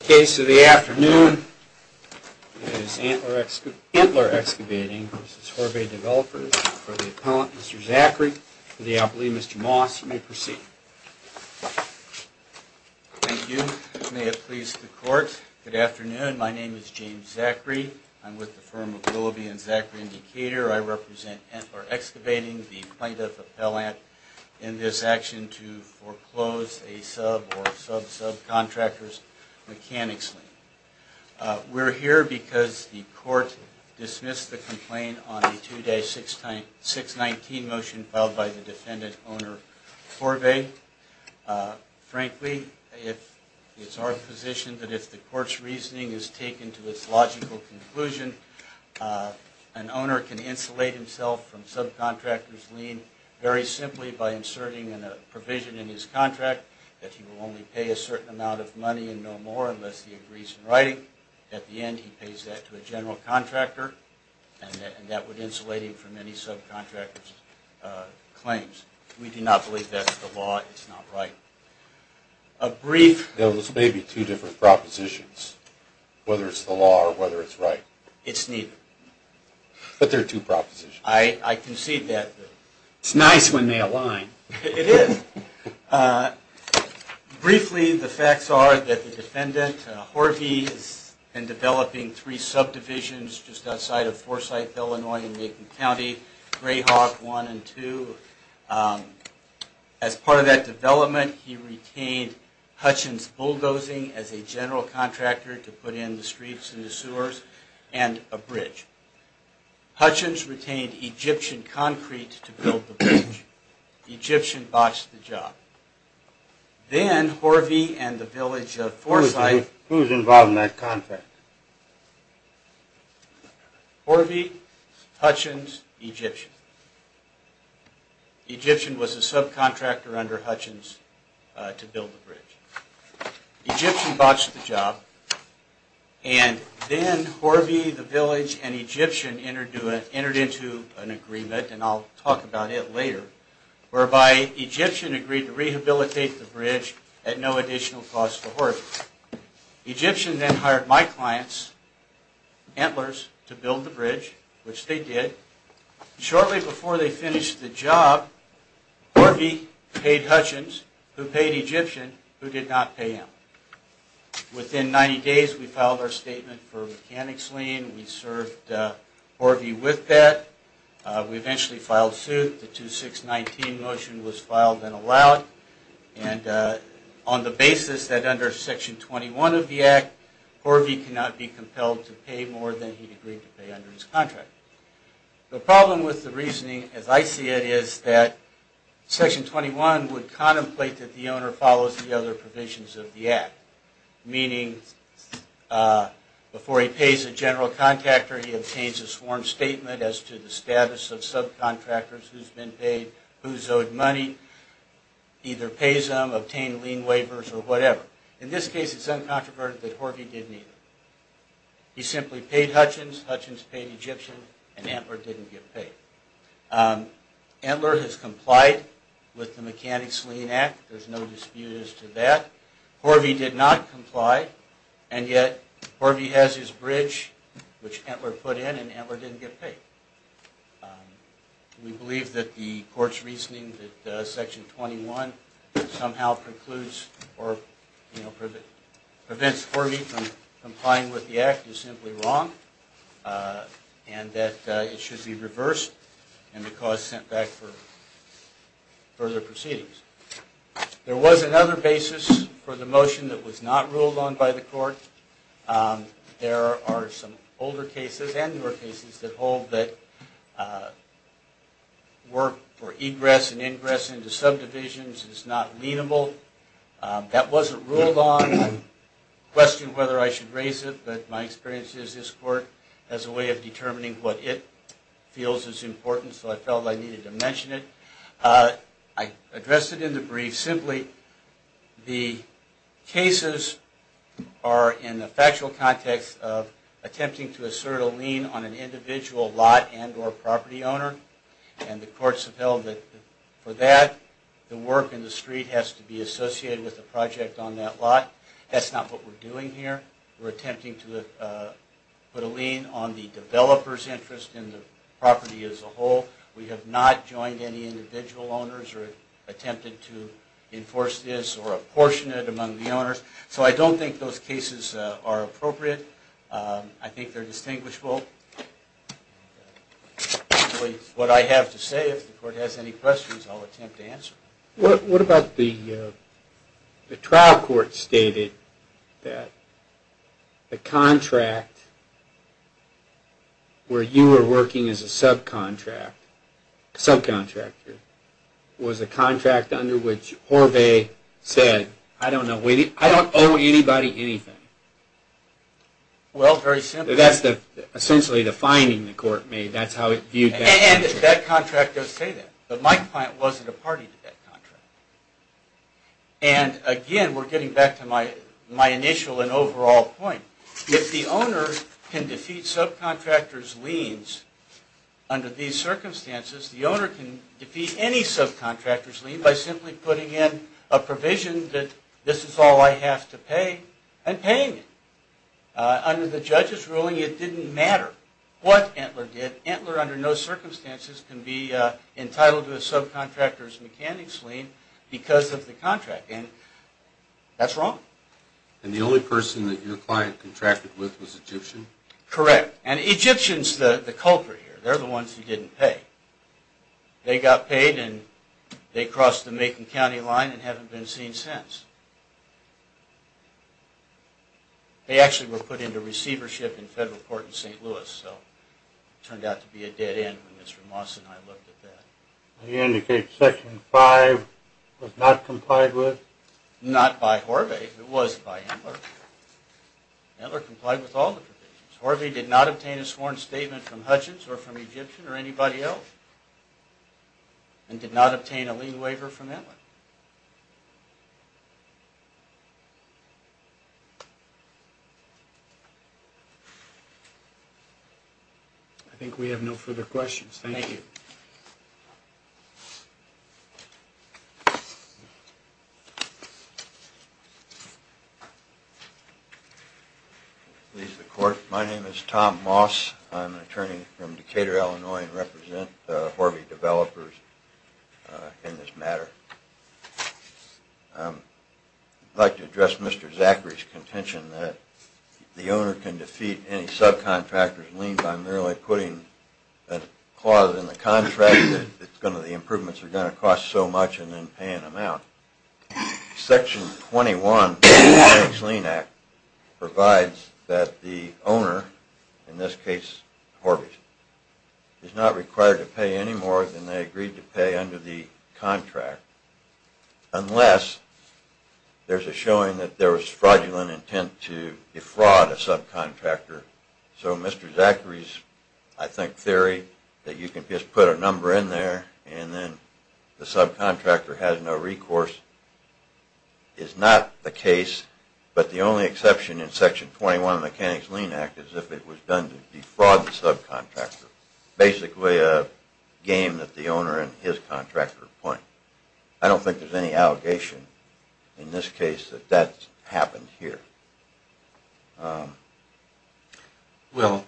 The case of the afternoon is Entler Excavating v. Horve Developers for the appellant, Mr. Zachary, for the appellee, Mr. Moss. You may proceed. Thank you. May it please the court. Good afternoon. My name is James Zachary. I'm with the firm of Willoughby and Zachary and Decatur. I represent Entler Excavating, the plaintiff appellant, in this action to foreclose a sub or sub-subcontractor's mechanics lien. We're here because the court dismissed the complaint on a 2-619 motion filed by the defendant owner, Horve. Frankly, it's our position that if the court's reasoning is taken to its logical conclusion, an owner can insulate himself from subcontractor's lien very simply by inserting in a provision in his contract that he will only pay a certain amount of money and no more unless he agrees in writing. At the end, he pays that to a general contractor and that would insulate him from any subcontractor's claims. We do not believe that's the law. It's not right. There may be two different propositions, whether it's the law or whether it's right. It's neither. But there are two propositions. I concede that. It's nice when they align. It is. Briefly, the facts are that the defendant, Horve, has been developing three subdivisions just outside of Forsyth, Illinois in Macon County, Greyhawk 1 and 2. As part of that development, he retained Hutchins Bulldozing as a general contractor to put in the streets and the sewers and a bridge. Hutchins retained Egyptian Concrete to build the bridge. Egyptian botched the job. Then Horve and the village of Forsyth... Who was involved in that contract? Horve, Hutchins, Egyptian. Egyptian was a subcontractor under Hutchins to build the bridge. Egyptian botched the job and then Horve, the village, and Egyptian entered into an agreement, and I'll talk about it later, whereby Egyptian agreed to rehabilitate the bridge at no additional cost to Horve. Egyptian then hired my clients, Entlers, to build the bridge, which they did. Shortly before they finished the job, Horve paid Hutchins, who paid Egyptian, who did not pay him. Within 90 days, we filed our statement for mechanics lien. We served Horve with that. We eventually filed suit. The 2-6-19 motion was filed and allowed. And on the basis that under Section 21 of the Act, Horve cannot be compelled to pay more than he agreed to pay under his contract. The problem with the reasoning, as I see it, is that Section 21 would contemplate that the owner follows the other provisions of the Act. Meaning, before he pays a general contractor, he obtains a sworn statement as to the status of subcontractors, who's been paid, who's owed money, either pays them, obtain lien waivers, or whatever. In this case, it's uncontroverted that Horve did neither. He simply paid Hutchins, Hutchins paid Egyptian, and Entler didn't get paid. Entler has complied with the Mechanics Lien Act, there's no dispute as to that. Horve did not comply, and yet Horve has his bridge, which Entler put in, and Entler didn't get paid. We believe that the Court's reasoning that Section 21 somehow precludes or prevents Horve from complying with the Act is simply wrong, and that it should be reversed and the cause sent back for further proceedings. There was another basis for the motion that was not ruled on by the Court. There are some older cases, and newer cases, that hold that work for egress and ingress into subdivisions is not lienable. That wasn't ruled on. I questioned whether I should raise it, but my experience is this Court has a way of determining what it feels is important, so I felt I needed to mention it. I addressed it in the brief. Simply, the cases are in the factual context of attempting to assert a lien on an individual lot and or property owner, and the Courts have held that for that, the work in the street has to be associated with the project on that lot. That's not what we're doing here. We're attempting to put a lien on the developer's interest in the property as a whole. We have not joined any individual owners or attempted to enforce this or apportion it among the owners. So I don't think those cases are appropriate. I think they're distinguishable. What I have to say, if the Court has any questions, I'll attempt to answer. What about the trial court stated that the contract where you were working as a subcontractor was a contract under which Horvay said, I don't owe anybody anything. Well, very simple. That's essentially the finding the Court made. And that contract does say that, but my client wasn't a party to that contract. And again, we're getting back to my initial and overall point. If the owner can defeat subcontractor's liens under these circumstances, the owner can defeat any subcontractor's lien by simply putting in a provision that this is all I have to pay and paying it. Under the judge's ruling, it didn't matter what Entler did. Entler, under no circumstances, can be entitled to a subcontractor's mechanics lien because of the contract. And that's wrong. And the only person that your client contracted with was Egyptian? Correct. And Egyptian's the culprit here. They're the ones who didn't pay. They got paid and they crossed the Macon County line and haven't been seen since. They actually were put into receivership in federal court in St. Louis, so it turned out to be a dead end when Mr. Moss and I looked at that. Are you indicating Section 5 was not complied with? Not by Horvath. It was by Entler. Entler complied with all the provisions. Horvath did not obtain a sworn statement from Hutchins or from Egyptian or anybody else and did not obtain a lien waiver from Entler. I think we have no further questions. Thank you. My name is Tom Moss. I'm an attorney from Decatur, Illinois and represent Horvath developers in this matter. I'd like to address Mr. Zachary's contention that the owner can defeat any subcontractor's lien by merely putting a clause in the contract that the improvements are going to cost so much and then paying them out. Section 21 provides that the owner, in this case Horvath, is not required to pay any more than they agreed to pay under the contract unless there's a showing that there was fraudulent intent to defraud a subcontractor. So Mr. Zachary's, I think, theory that you can just put a number in there and then the subcontractor has no recourse is not the case, but the only exception in Section 21 of the Mechanics Lien Act is if it was done to defraud the subcontractor. It's basically a game that the owner and his contractor play. I don't think there's any allegation in this case that that's happened here. Well,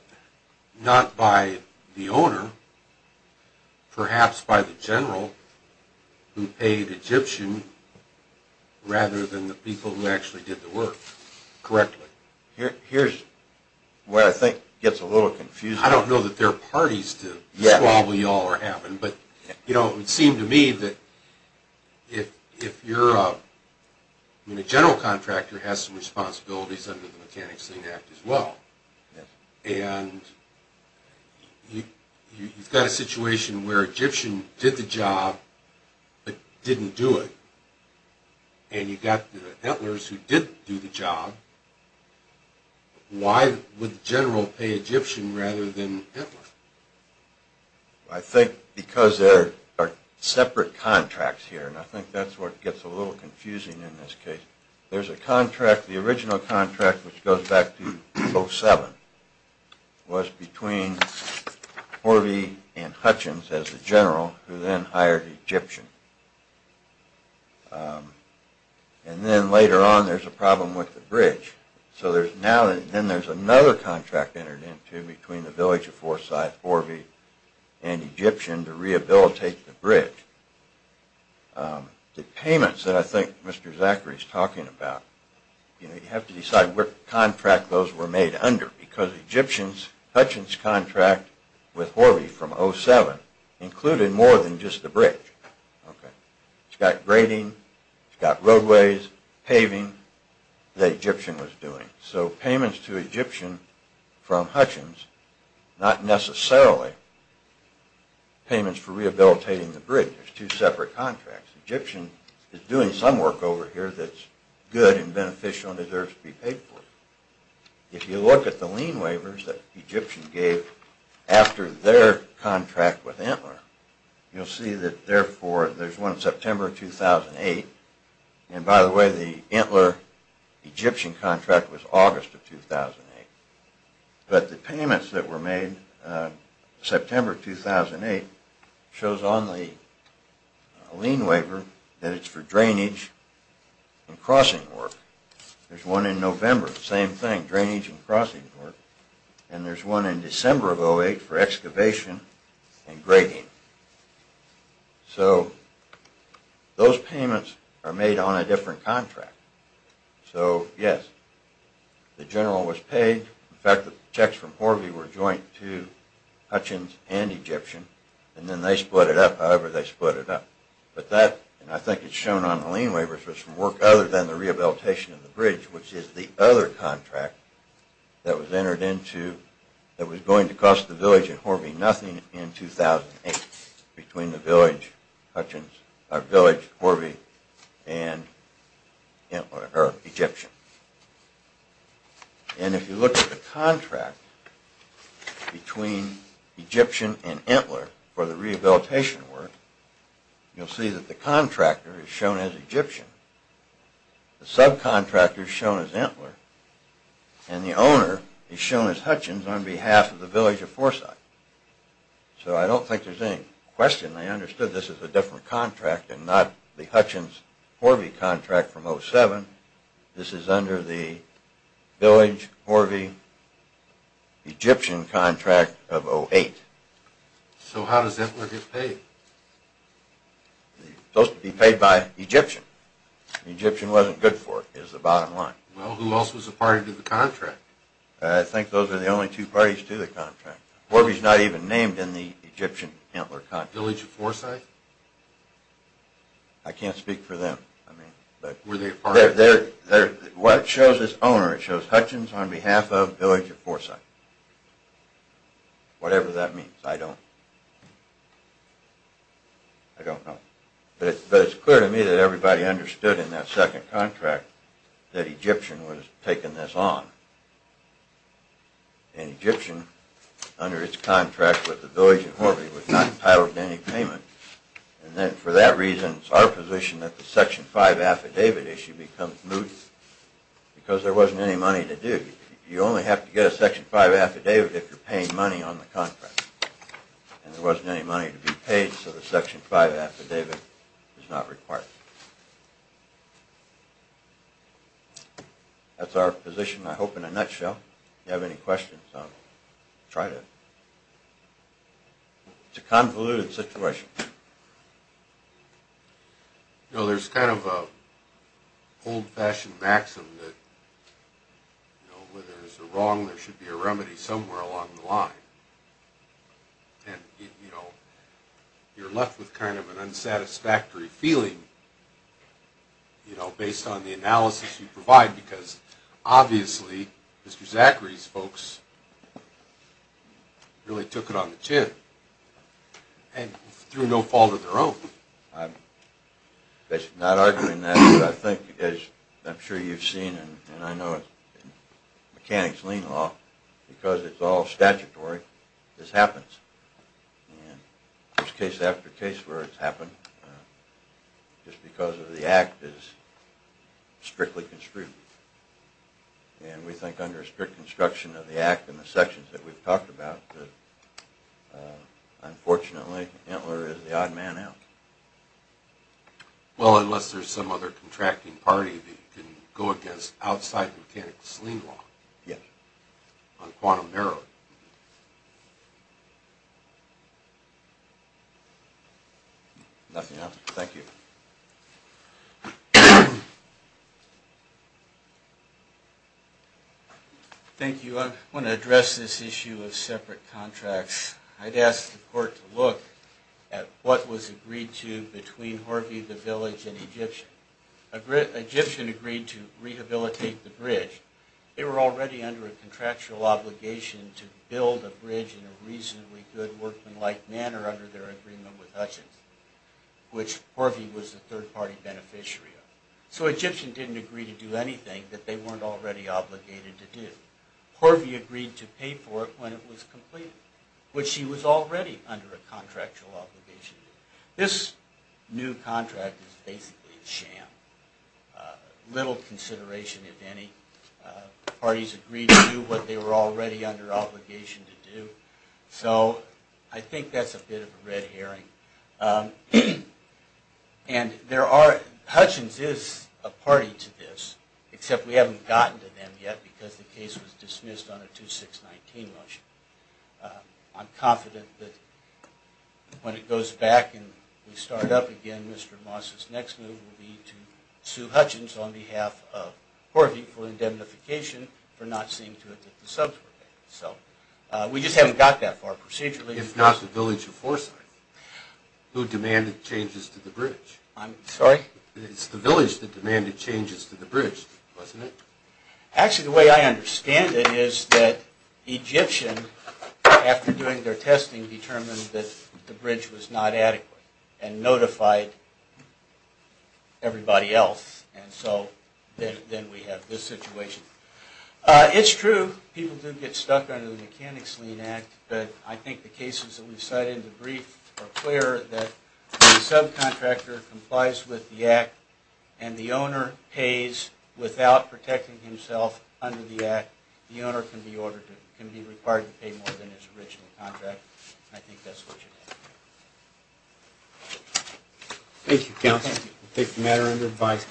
not by the owner, perhaps by the general who paid Egyptian rather than the people who actually did the work correctly. Here's where I think it gets a little confusing. I don't know that there are parties to squabble y'all are having, but it would seem to me that if you're a general contractor has some responsibilities under the Mechanics Lien Act as well, and you've got a situation where Egyptian did the job but didn't do it, and you've got the Entlers who did do the job, why would the general pay Egyptian rather than Entler? I think because there are separate contracts here, and I think that's where it gets a little confusing in this case. There's a contract, the original contract, which goes back to 07, was between Horvey and Hutchins as the general who then hired Egyptian. And then later on there's a problem with the bridge. So then there's another contract entered into between the village of Forsyth, Horvey, and Egyptian to rehabilitate the bridge. The payments that I think Mr. Zachary is talking about, you have to decide what contract those were made under, because Hutchins' contract with Horvey from 07 included more than just the bridge. It's got grading, it's got roadways, paving that Egyptian was doing. So payments to Egyptian from Hutchins, not necessarily payments for rehabilitating the bridge. There's two separate contracts. Egyptian is doing some work over here that's good and beneficial and deserves to be paid for. If you look at the lien waivers that Egyptian gave after their contract with Entler, you'll see that there's one in September 2008. And by the way, the Entler-Egyptian contract was August of 2008. But the payments that were made September 2008 shows on the lien waiver that it's for drainage and crossing work. There's one in November, same thing, drainage and crossing work. And there's one in December of 2008 for excavation and grading. So those payments are made on a different contract. So yes, the general was paid. In fact, the checks from Horvey were joint to Hutchins and Egyptian. And then they split it up however they split it up. But that, and I think it's shown on the lien waivers, was for work other than the rehabilitation of the bridge, which is the other contract that was going to cost the village at Horvey nothing in 2008 between the village, Horvey, and Egyptian. And if you look at the contract between Egyptian and Entler for the rehabilitation work, you'll see that the contractor is shown as Egyptian. The subcontractor is shown as Entler. And the owner is shown as Hutchins on behalf of the village of Forsyth. So I don't think there's any question they understood this as a different contract and not the Hutchins-Horvey contract from 07. This is under the village-Horvey-Egyptian contract of 08. So how does Entler get paid? Supposed to be paid by Egyptian. Egyptian wasn't good for it is the bottom line. Well, who else was a party to the contract? I think those are the only two parties to the contract. Horvey's not even named in the Egyptian-Entler contract. Village of Forsyth? I can't speak for them. Were they a party? What shows as owner, it shows Hutchins on behalf of village of Forsyth. Whatever that means, I don't know. But it's clear to me that everybody understood in that second contract that Egyptian was taking this on. And Egyptian, under its contract with the village of Horvey, was not entitled to any payment. And then for that reason, it's our position that the Section 5 affidavit issue becomes moot because there wasn't any money to do. You only have to get a Section 5 affidavit if you're paying money on the contract. And there wasn't any money to be paid, so the Section 5 affidavit is not required. That's our position, I hope, in a nutshell. If you have any questions, I'll try to... It's a convoluted situation. You know, there's kind of an old-fashioned maxim that, you know, whether there's a wrong, there should be a remedy somewhere along the line. And, you know, you're left with kind of an unsatisfactory feeling, you know, based on the analysis you provide, because obviously Mr. Zachary's folks really took it on the chin and threw no fault of their own. I'm not arguing that, but I think, as I'm sure you've seen and I know in mechanics lien law, because it's all statutory, this happens. And there's case after case where it's happened. Just because of the act is strictly construed. And we think under strict construction of the act and the sections that we've talked about that, unfortunately, Entler is the odd man out. Well, unless there's some other contracting party that can go against outside mechanics lien law. Yeah. On quantum narrowing. Nothing else. Thank you. Thank you. I want to address this issue of separate contracts. I'd ask the court to look at what was agreed to between Horvey, the village, and Egyptian. Egyptian agreed to rehabilitate the bridge. They were already under a contractual obligation to build a bridge in a reasonably good workmanlike manner under their agreement with Hutchins, which Horvey was a third party beneficiary of. So Egyptian didn't agree to do anything that they weren't already obligated to do. Horvey agreed to pay for it when it was completed, which he was already under a contractual obligation to do. This new contract is basically a sham. Little consideration, if any. The parties agreed to do what they were already under obligation to do. So I think that's a bit of a red herring. Hutchins is a party to this, except we haven't gotten to them yet because the case was dismissed on a 2-6-19 motion. I'm confident that when it goes back and we start up again, Mr. Moss's next move will be to sue Hutchins on behalf of Horvey for indemnification for not seeing to it that the subs were there. We just haven't got that far procedurally. If not the village of Forsyth, who demanded changes to the bridge. I'm sorry? It's the village that demanded changes to the bridge, wasn't it? Actually, the way I understand it is that Egyptian, after doing their testing, determined that the bridge was not adequate and notified everybody else. And so then we have this situation. It's true, people do get stuck under the Mechanics' Lien Act. But I think the cases that we've cited in the brief are clear that the subcontractor complies with the act and the owner pays without protecting himself under the act. The owner can be required to pay more than his original contract. I think that's what you need. Thank you, counsel. We'll take the matter under advice.